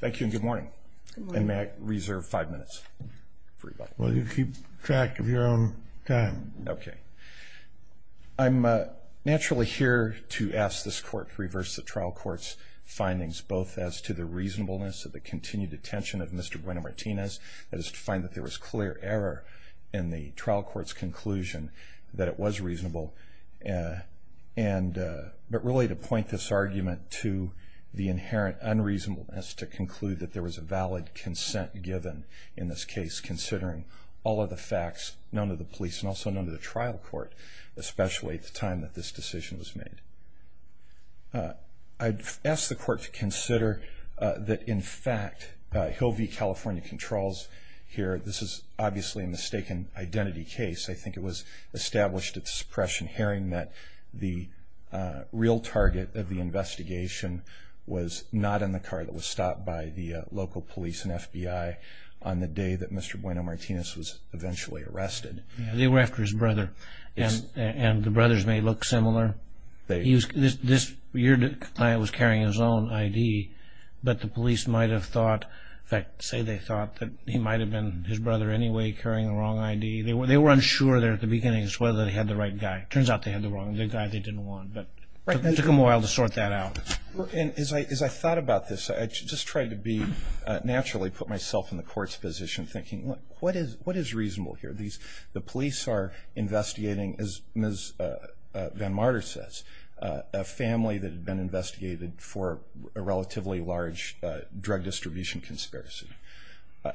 Thank you, and good morning, and may I reserve five minutes for rebuttal? Well, you keep track of your own time. Okay. I'm naturally here to ask this Court to reverse the trial court's findings, both as to the reasonableness of the continued attention of Mr. Bueno-Martinez, that is to find that there was clear error in the trial court's conclusion that it was reasonable, but really to point this argument to the inherent unreasonableness to conclude that there was a valid consent given in this case, considering all of the facts known to the police and also known to the trial court, especially at the time that this decision was made. I'd ask the Court to consider that, in fact, Hill v. California Controls here, this is obviously a mistaken identity case. I think it was established at the suppression hearing that the real target of the investigation was not in the car that was stopped by the local police and FBI on the day that Mr. Bueno-Martinez was eventually arrested. They were after his brother, and the brothers may look similar. This year the client was carrying his own ID, but the police might have thought, in fact, say they thought that he might have been his brother anyway carrying the wrong ID. They were unsure there at the beginning as to whether they had the right guy. It turns out they had the wrong guy they didn't want, but it took them a while to sort that out. As I thought about this, I just tried to naturally put myself in the Court's position thinking, what is reasonable here? The police are investigating, as Ms. Van Marder says, a family that had been investigated for a relatively large drug distribution conspiracy.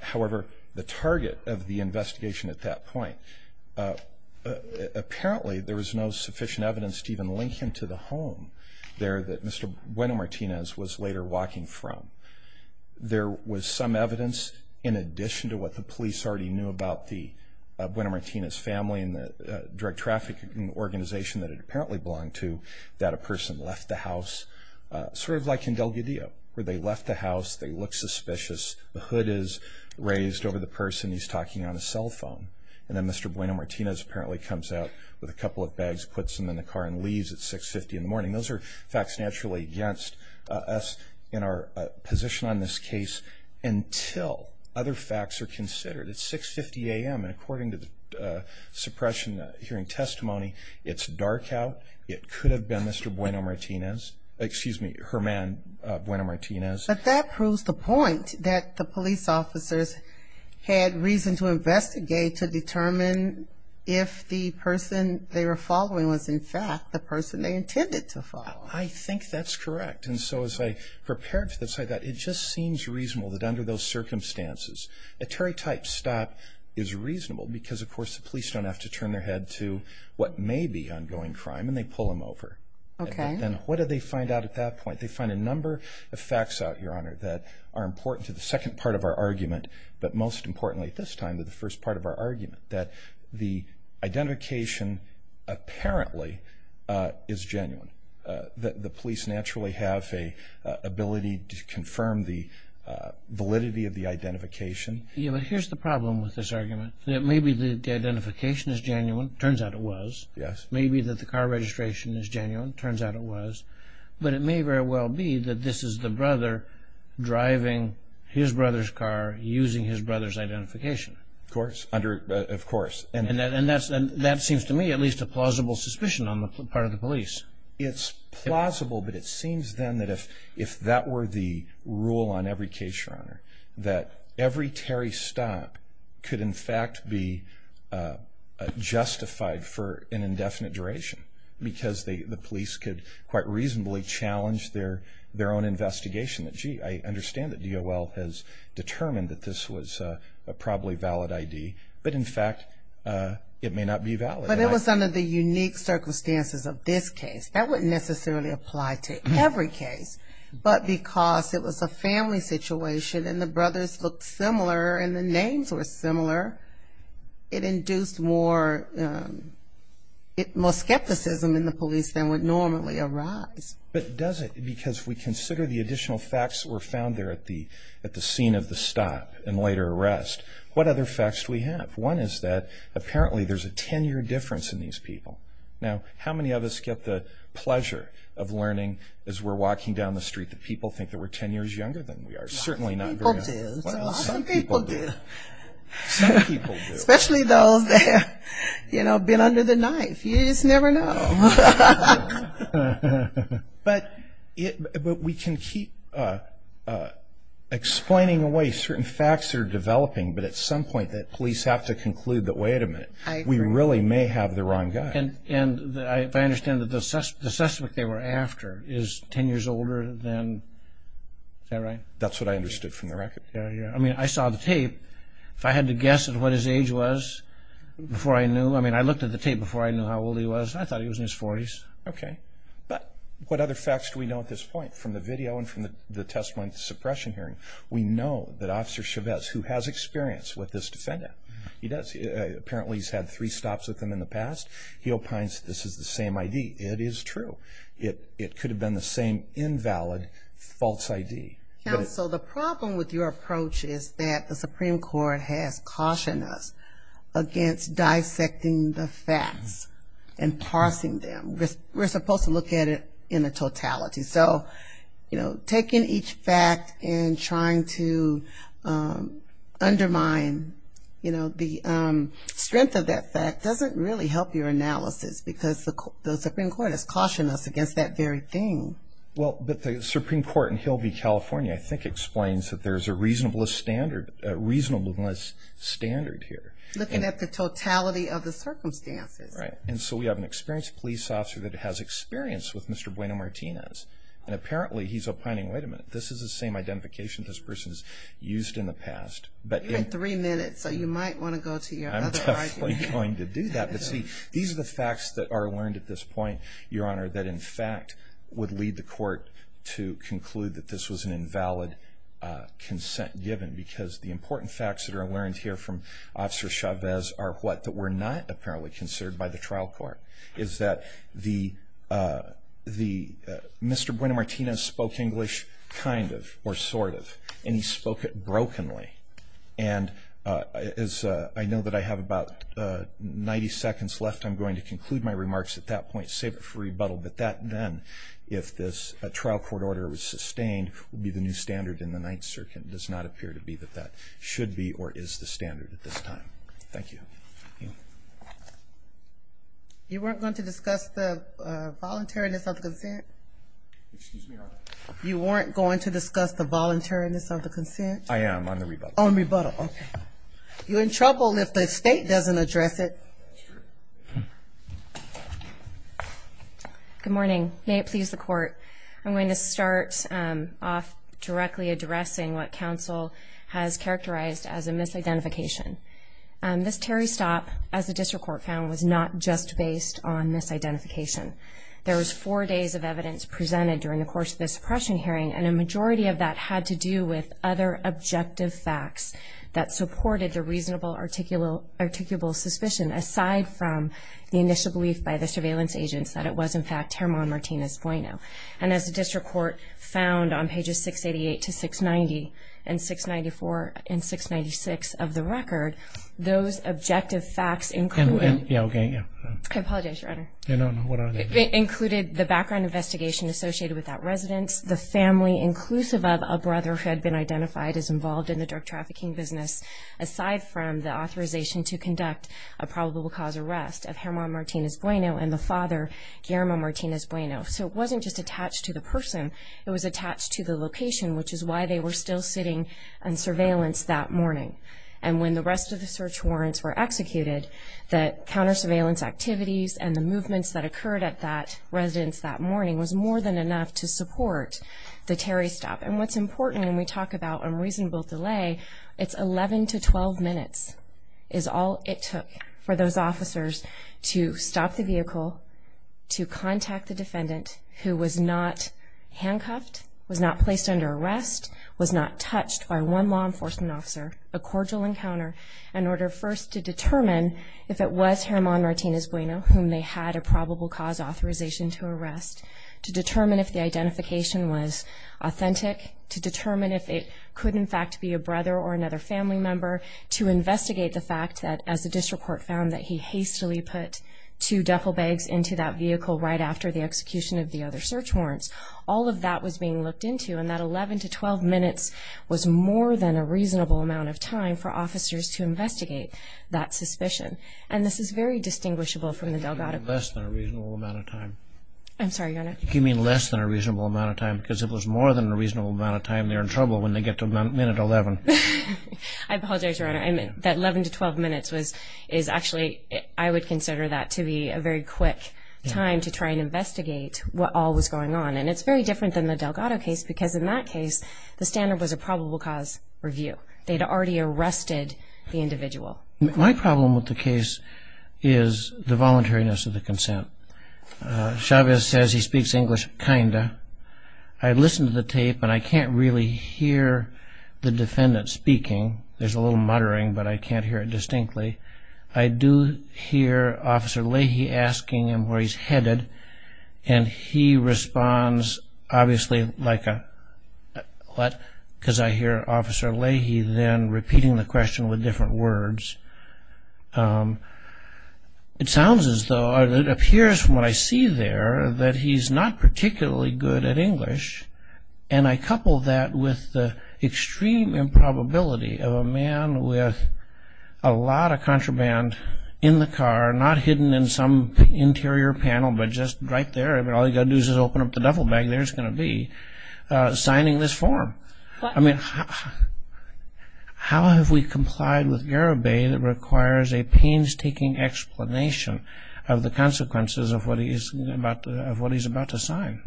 However, the target of the investigation at that point, apparently there was no sufficient evidence to even link him to the home there that Mr. Bueno-Martinez was later walking from. There was some evidence, in addition to what the police already knew about Bueno-Martinez's family and the drug trafficking organization that it apparently belonged to, that a person left the house, sort of like in Delgadillo, where they left the house, they look suspicious, the hood is raised over the person, he's talking on his cell phone, and then Mr. Bueno-Martinez apparently comes out with a couple of bags, puts them in the car and leaves at 6.50 in the morning. Those are facts naturally against us in our position on this case until other facts are considered. It's 6.50 a.m., and according to the suppression hearing testimony, it's dark out. It could have been Mr. Bueno-Martinez, excuse me, her man, Bueno-Martinez. But that proves the point that the police officers had reason to investigate to determine if the person they were following was in fact the person they intended to follow. I think that's correct, and so as I prepared for this, I thought it just seems reasonable that under those circumstances the police don't have to turn their head to what may be ongoing crime, and they pull them over. And what do they find out at that point? They find a number of facts out, Your Honor, that are important to the second part of our argument, but most importantly at this time to the first part of our argument, that the identification apparently is genuine, that the police naturally have an ability to confirm the validity of the identification. Yes, but here's the problem with this argument. It may be that the identification is genuine. It turns out it was. Yes. It may be that the car registration is genuine. It turns out it was. But it may very well be that this is the brother driving his brother's car, using his brother's identification. Of course. And that seems to me at least a plausible suspicion on the part of the police. It's plausible, but it seems then that if that were the rule on every case, Your Honor, that every Terry stop could in fact be justified for an indefinite duration because the police could quite reasonably challenge their own investigation. Gee, I understand that DOL has determined that this was a probably valid ID, but in fact it may not be valid. But it was under the unique circumstances of this case. That wouldn't necessarily apply to every case, but because it was a family situation and the brothers looked similar and the names were similar, it induced more skepticism in the police than would normally arise. But does it? Because if we consider the additional facts that were found there at the scene of the stop and later arrest, what other facts do we have? One is that apparently there's a 10-year difference in these people. Now, how many of us get the pleasure of learning as we're walking down the street that people think that we're 10 years younger than we are? Certainly not very many. Lots of people do. Well, some people do. Some people do. Especially those that have been under the knife. You just never know. But we can keep explaining away certain facts that are developing, but at some point that police have to conclude that, wait a minute, we really may have the wrong guy. And if I understand that the suspect they were after is 10 years older than that, right? That's what I understood from the record. Yeah, yeah. I mean, I saw the tape. If I had to guess at what his age was before I knew, I mean, I looked at the tape before I knew how old he was, and I thought he was in his 40s. Okay. But what other facts do we know at this point from the video and from the testimony at the suppression hearing? We know that Officer Chavez, who has experience with this defendant, he does. Apparently he's had three stops with him in the past. He opines this is the same ID. It is true. It could have been the same invalid false ID. Counsel, the problem with your approach is that the Supreme Court has cautioned us against dissecting the facts and parsing them. We're supposed to look at it in a totality. So, you know, taking each fact and trying to undermine, you know, the strength of that fact doesn't really help your analysis because the Supreme Court has cautioned us against that very thing. Well, the Supreme Court in Hillview, California, I think, explains that there's a reasonableness standard here. Looking at the totality of the circumstances. Right. And so we have an experienced police officer that has experience with Mr. Bueno-Martinez, and apparently he's opining, wait a minute, this is the same identification this person has used in the past. You had three minutes, so you might want to go to your other argument. I'm definitely going to do that. But, see, these are the facts that are learned at this point, Your Honor, that in fact would lead the court to conclude that this was an invalid consent given because the important facts that are learned here from Officer Chavez are what were not apparently considered by the trial court, is that Mr. Bueno-Martinez spoke English kind of or sort of, and he spoke it brokenly. And as I know that I have about 90 seconds left, I'm going to conclude my remarks at that point, save it for rebuttal, but that then, if this trial court order was sustained, would be the new standard in the Ninth Circuit. It does not appear to be that that should be or is the standard at this time. Thank you. You weren't going to discuss the voluntariness of the consent? You weren't going to discuss the voluntariness of the consent? I am, on the rebuttal. On rebuttal, okay. You're in trouble if the State doesn't address it. Good morning. May it please the Court, I'm going to start off directly addressing what counsel has characterized as a misidentification. This Terry stop, as the district court found, was not just based on misidentification. There was four days of evidence presented during the course of this suppression hearing, and a majority of that had to do with other objective facts that supported the reasonable articulable suspicion, And as the district court found on pages 688 to 690, and 694 and 696 of the record, those objective facts included the background investigation associated with that residence, the family inclusive of a brother who had been identified as involved in the drug trafficking business, aside from the authorization to conduct a probable cause arrest of Germán Martinez Bueno. So it wasn't just attached to the person, it was attached to the location, which is why they were still sitting on surveillance that morning. And when the rest of the search warrants were executed, the counter surveillance activities and the movements that occurred at that residence that morning was more than enough to support the Terry stop. And what's important when we talk about unreasonable delay, it's 11 to 12 minutes is all it took for those officers to stop the vehicle, to contact the defendant who was not handcuffed, was not placed under arrest, was not touched by one law enforcement officer, a cordial encounter in order first to determine if it was Germán Martinez Bueno, whom they had a probable cause authorization to arrest, to determine if the identification was authentic, to determine if it could in fact be a brother or another family member, to investigate the fact that as the district court found that he hastily put two duffel bags into that vehicle right after the execution of the other search warrants, all of that was being looked into and that 11 to 12 minutes was more than a reasonable amount of time for officers to investigate that suspicion. And this is very distinguishable from the Delgado case. You mean less than a reasonable amount of time. I'm sorry, Your Honor. You mean less than a reasonable amount of time because it was more than a reasonable amount of time they're in trouble when they get to minute 11. I apologize, Your Honor. That 11 to 12 minutes is actually, I would consider that to be a very quick time to try and investigate what all was going on. And it's very different than the Delgado case because in that case, the standard was a probable cause review. They had already arrested the individual. My problem with the case is the voluntariness of the consent. Chavez says he speaks English, kind of. I listened to the tape and I can't really hear the defendant speaking. There's a little muttering, but I can't hear it distinctly. I do hear Officer Leahy asking him where he's headed, and he responds obviously like a, what? Because I hear Officer Leahy then repeating the question with different words. It sounds as though, or it appears from what I see there, that he's not particularly good at English. And I couple that with the extreme improbability of a man with a lot of contraband in the car, not hidden in some interior panel, but just right there. I mean, all you've got to do is open up the duffel bag. There's going to be signing this form. I mean, how have we complied with Garabay that requires a painstaking explanation of the consequences of what he's about to sign?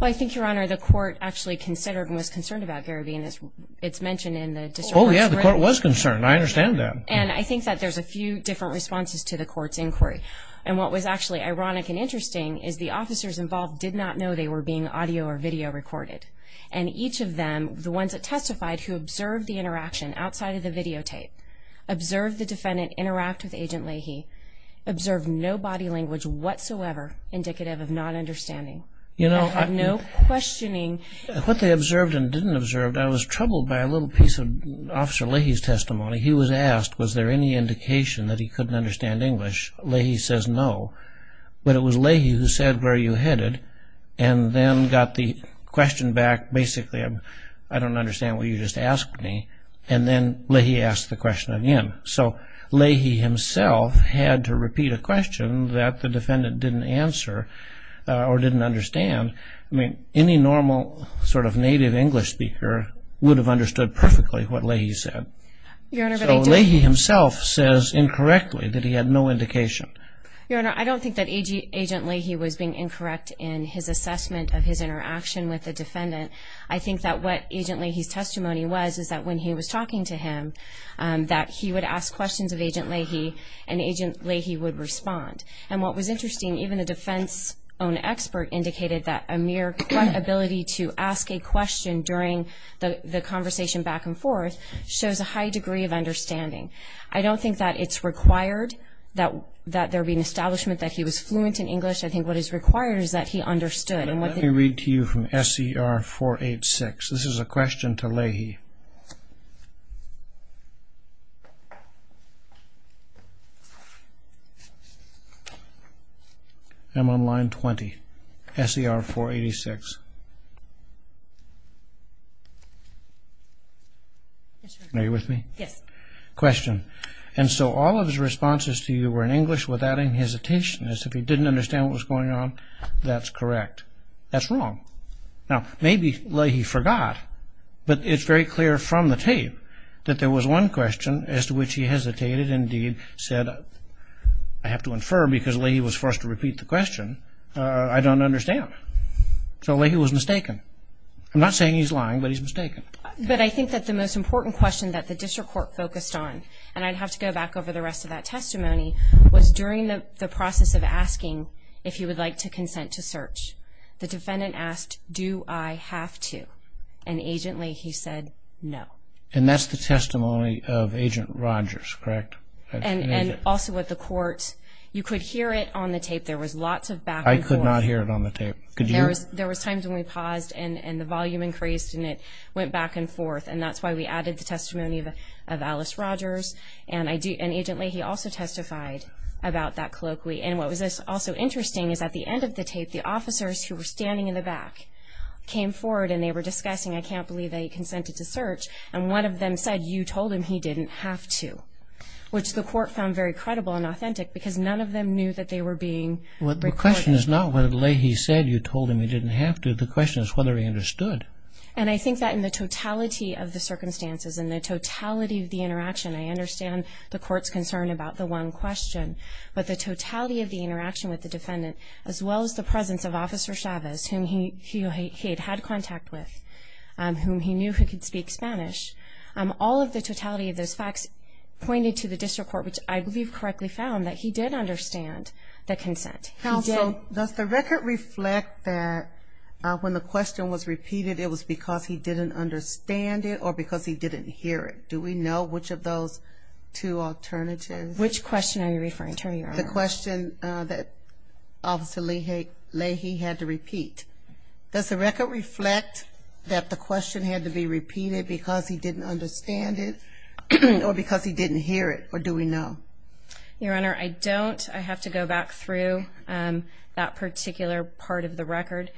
Well, I think, Your Honor, the court actually considered and was concerned about Garabay and it's mentioned in the district court's written. Oh, yeah, the court was concerned. I understand that. And I think that there's a few different responses to the court's inquiry. And what was actually ironic and interesting is the officers involved did not know they were being audio or video recorded. And each of them, the ones that testified, who observed the interaction outside of the videotape, observed the defendant interact with Agent Leahy, observed no body language whatsoever indicative of non-understanding. No questioning. What they observed and didn't observe, I was troubled by a little piece of Officer Leahy's testimony. He was asked was there any indication that he couldn't understand English. Leahy says no. But it was Leahy who said, where are you headed? And then got the question back, basically, I don't understand what you just asked me. And then Leahy asked the question again. So Leahy himself had to repeat a question that the defendant didn't answer or didn't understand. I mean, any normal sort of native English speaker would have understood perfectly what Leahy said. So Leahy himself says incorrectly that he had no indication. Your Honor, I don't think that Agent Leahy was being incorrect in his assessment of his interaction with the defendant. I think that what Agent Leahy's testimony was is that when he was talking to him, that he would ask questions of Agent Leahy, and Agent Leahy would respond. And what was interesting, even the defense-owned expert indicated that a mere ability to ask a question during the conversation back and forth shows a high degree of understanding. I don't think that it's required that there be an establishment that he was fluent in English. I think what is required is that he understood. Let me read to you from SCR 486. This is a question to Leahy. I'm on line 20. SCR 486. Are you with me? Yes. Question. And so all of his responses to you were in English without any hesitation, as if he didn't understand what was going on. That's correct. That's wrong. Now maybe Leahy forgot, but it's very clear from the tape that there was one question as to which he hesitated and indeed said, I have to infer because Leahy was forced to repeat the question, I don't understand. So Leahy was mistaken. I'm not saying he's lying, but he's mistaken. But I think that the most important question that the district court focused on, and I'd have to go back over the rest of that testimony, was during the process of asking if he would like to consent to search. The defendant asked, do I have to? And agently he said, no. And that's the testimony of Agent Rogers, correct? And also with the court, you could hear it on the tape. There was lots of back and forth. I could not hear it on the tape. Could you? There was times when we paused and the volume increased and it went back and forth, and that's why we added the testimony of Alice Rogers. And agently he also testified about that colloquy. And what was also interesting is at the end of the tape, the officers who were standing in the back came forward and they were discussing, I can't believe that he consented to search, and one of them said, you told him he didn't have to, which the court found very credible and authentic because none of them knew that they were being recorded. The question is not whether Leahy said you told him he didn't have to. The question is whether he understood. And I think that in the totality of the circumstances, in the totality of the interaction, I understand the court's concern about the one question, but the totality of the interaction with the defendant, as well as the presence of Officer Chavez, whom he had had contact with, whom he knew who could speak Spanish, all of the totality of those facts pointed to the district court, which I believe correctly found that he did understand the consent. Counsel, does the record reflect that when the question was repeated it was because he didn't understand it or because he didn't hear it? Do we know which of those two alternatives? Which question are you referring to, Your Honor? The question that Officer Leahy had to repeat. Does the record reflect that the question had to be repeated because he didn't understand it or because he didn't hear it, or do we know? Your Honor, I don't. I have to go back through that particular part of the record.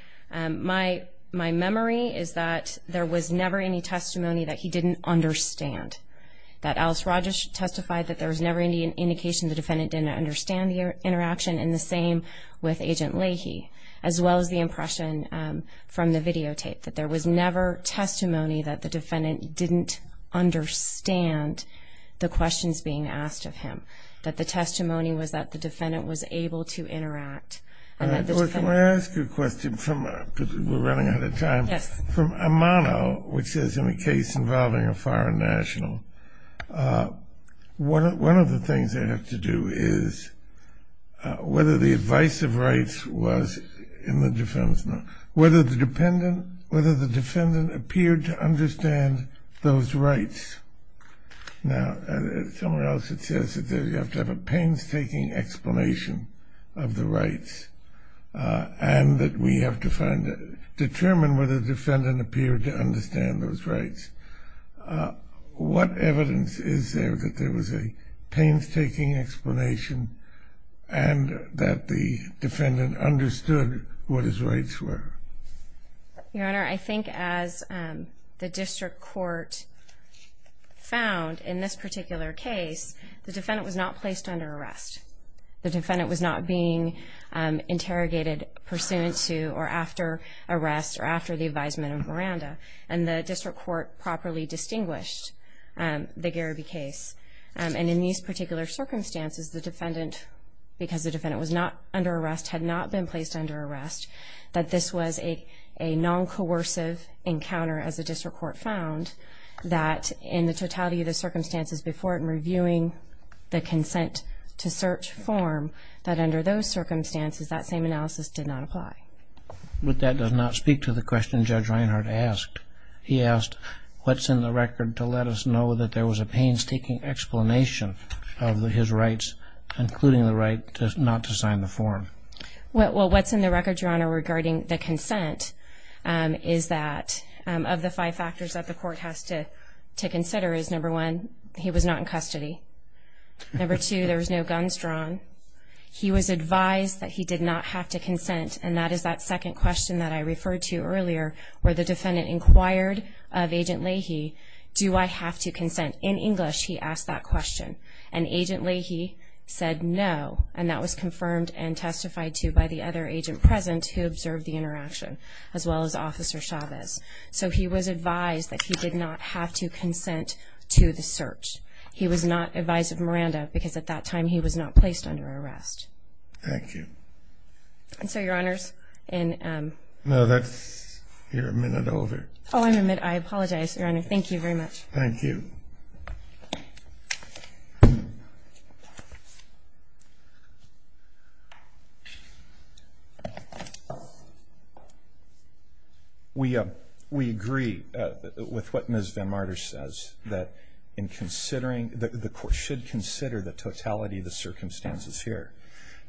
My memory is that there was never any testimony that he didn't understand, that Alice Rogers testified that there was never any indication the defendant didn't understand the interaction, and the same with Agent Leahy, as well as the impression from the videotape, that there was never testimony that the defendant didn't understand the questions being asked of him, that the testimony was that the defendant was able to interact. Can I ask you a question? We're running out of time. Yes. From Amano, which is in a case involving a foreign national, one of the things they have to do is whether the advice of rights was in the defense, whether the defendant appeared to understand those rights. Now, somewhere else it says that you have to have a painstaking explanation of determine whether the defendant appeared to understand those rights. What evidence is there that there was a painstaking explanation and that the defendant understood what his rights were? Your Honor, I think as the district court found in this particular case, the defendant was not placed under arrest. The defendant was not being interrogated pursuant to or after arrest or after the advisement of Miranda. And the district court properly distinguished the Gariby case. And in these particular circumstances, the defendant, because the defendant was not under arrest, had not been placed under arrest, that this was a non-coercive encounter, as the district court found, that in the totality of the circumstances before it, the consent to search form, that under those circumstances, that same analysis did not apply. But that does not speak to the question Judge Reinhart asked. He asked, what's in the record to let us know that there was a painstaking explanation of his rights, including the right not to sign the form? Well, what's in the record, Your Honor, regarding the consent, is that of the five factors that the court has to consider is, number one, he was not in custody. Number two, there was no guns drawn. He was advised that he did not have to consent, and that is that second question that I referred to earlier, where the defendant inquired of Agent Leahy, do I have to consent? In English, he asked that question, and Agent Leahy said no, and that was confirmed and testified to by the other agent present who observed the interaction, as well as Officer Chavez. So he was advised that he did not have to consent to the search. He was not advised of Miranda, because at that time, he was not placed under arrest. Thank you. And so, Your Honors, in ---- No, that's your minute over. Oh, I'm a minute. I apologize, Your Honor. Thank you very much. Thank you. Thank you. We agree with what Ms. Van Marder says, that in considering, the court should consider the totality of the circumstances here,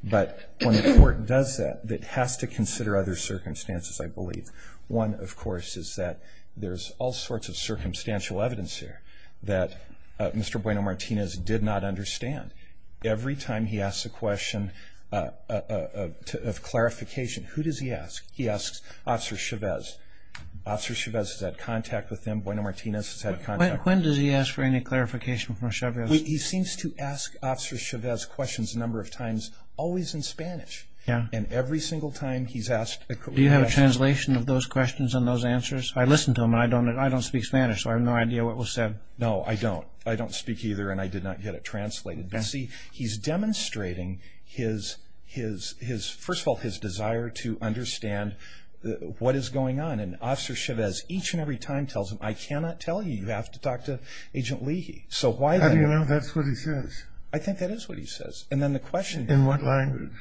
but when the court does that, it has to consider other circumstances, I believe. One, of course, is that there's all sorts of circumstantial evidence here that Mr. Bueno-Martinez did not understand. Every time he asks a question of clarification, who does he ask? He asks Officer Chavez. Officer Chavez has had contact with him. Bueno-Martinez has had contact with him. When does he ask for any clarification from Chavez? He seems to ask Officer Chavez questions a number of times, always in Spanish. Yeah. And every single time he's asked a question ---- Do you have a translation of those questions and those answers? I listen to them, and I don't speak Spanish, so I have no idea what was said. No, I don't. I don't speak either, and I did not get it translated. You see, he's demonstrating his, first of all, his desire to understand what is going on, and Officer Chavez each and every time tells him, I cannot tell you, you have to talk to Agent Leahy. How do you know that's what he says? I think that is what he says. And then the question ---- In what language?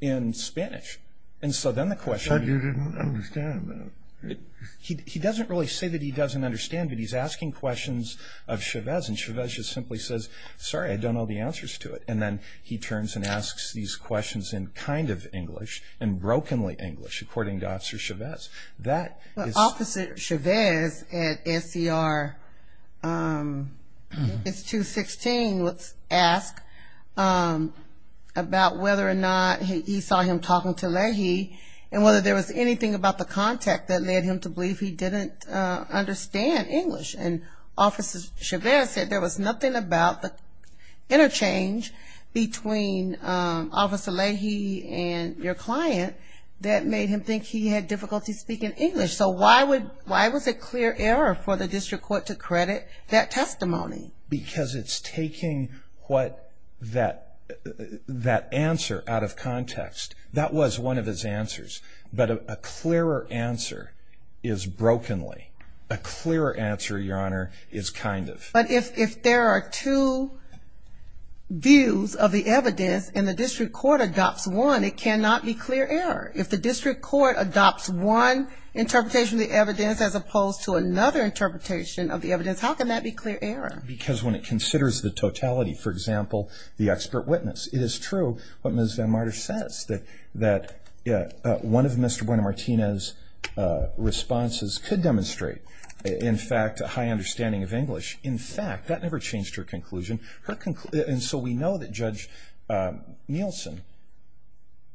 In Spanish. In Spanish. And so then the question ---- I thought you didn't understand that. He doesn't really say that he doesn't understand, but he's asking questions of Chavez, and Chavez just simply says, sorry, I don't know the answers to it. And then he turns and asks these questions in kind of English, and brokenly English, according to Officer Chavez. Well, Officer Chavez at SCR 216 was asked about whether or not he saw him talking to Leahy, and whether there was anything about the contact that led him to believe he didn't understand English. And Officer Chavez said there was nothing about the interchange between Officer Leahy and your client that made him think he had difficulty speaking English. So why was it clear error for the district court to credit that testimony? Because it's taking that answer out of context. That was one of his answers. But a clearer answer is brokenly. A clearer answer, Your Honor, is kind of. But if there are two views of the evidence and the district court adopts one, it cannot be clear error. If the district court adopts one interpretation of the evidence as opposed to another interpretation of the evidence, how can that be clear error? Because when it considers the totality, for example, the expert witness, it is true what Ms. Van Marder says, that one of Mr. Buena-Martinez's responses could demonstrate, in fact, a high understanding of English. In fact, that never changed her conclusion. And so we know that Judge Nielsen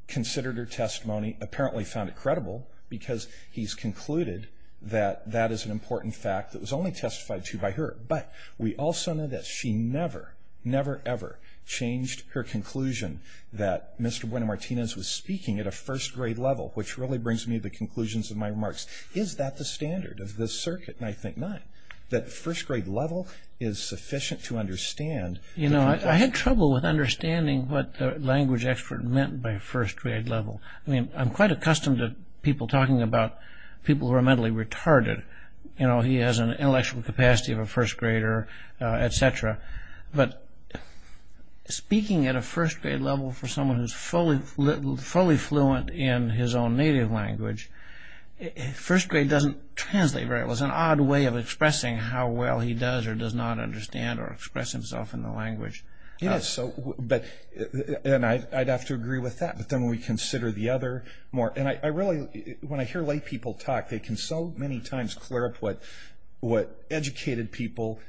considered her testimony, apparently found it credible, because he's concluded that that is an important fact that was only testified to by her. But we also know that she never, never, ever changed her conclusion that Mr. Buena-Martinez was speaking at a first-grade level, which really brings me to the conclusions of my remarks. Is that the standard of this circuit? I think not. That first-grade level is sufficient to understand. You know, I had trouble with understanding what the language expert meant by first-grade level. I mean, I'm quite accustomed to people talking about people who are mentally retarded. You know, he has an intellectual capacity of a first-grader, et cetera. But speaking at a first-grade level for someone who's fully fluent in his own native language, first-grade doesn't translate very well. It's an odd way of expressing how well he does or does not understand or express himself in the language. It is so. And I'd have to agree with that. But then we consider the other more. And I really, when I hear lay people talk, they can so many times clear up what educated people,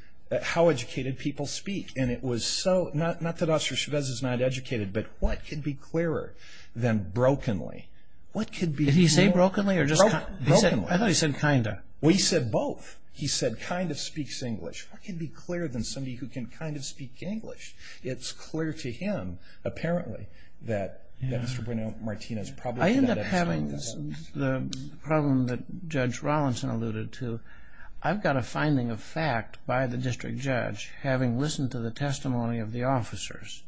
how educated people speak. And it was so, not that Officer Chavez is not educated, but what could be clearer than brokenly? What could be clearer? Did he say brokenly or just kind of? Brokenly. I thought he said kind of. Well, he said both. He said kind of speaks English. What could be clearer than somebody who can kind of speak English? It's clear to him, apparently, that Mr. Bruno Martinez probably did not understand that. I end up having the problem that Judge Rawlinson alluded to. I've got a finding of fact by the district judge, having listened to the testimony of the officers,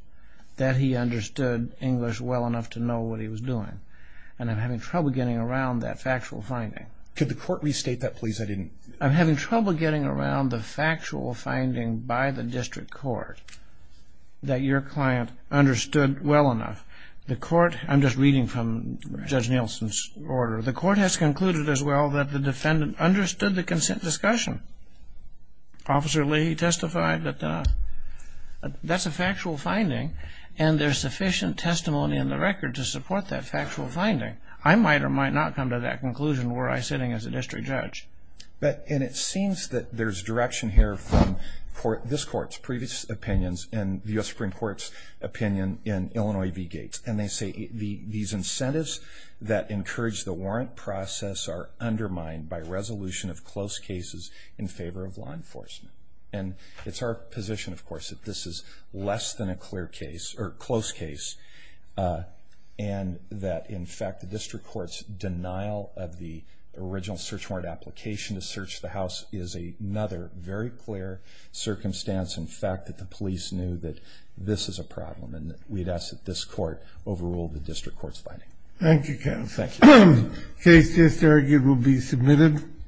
that he understood English well enough to know what he was doing. And I'm having trouble getting around that factual finding. Could the court restate that, please? I'm having trouble getting around the factual finding by the district court that your client understood well enough. The court, I'm just reading from Judge Nielsen's order, the court has concluded as well that the defendant understood the consent discussion. Officer Leahy testified that that's a factual finding and there's sufficient testimony in the record to support that factual finding. I might or might not come to that conclusion were I sitting as a district judge. And it seems that there's direction here from this court's previous opinions and the U.S. Supreme Court's opinion in Illinois v. Gates. And they say these incentives that encourage the warrant process are undermined by resolution of close cases in favor of law enforcement. And it's our position, of course, that this is less than a close case and that, in fact, the district court's denial of the original search warrant application to search the house is another very clear circumstance, in fact, that the police knew that this is a problem and we'd ask that this court overrule the district court's finding. Thank you, counsel. Thank you. Case just argued will be submitted.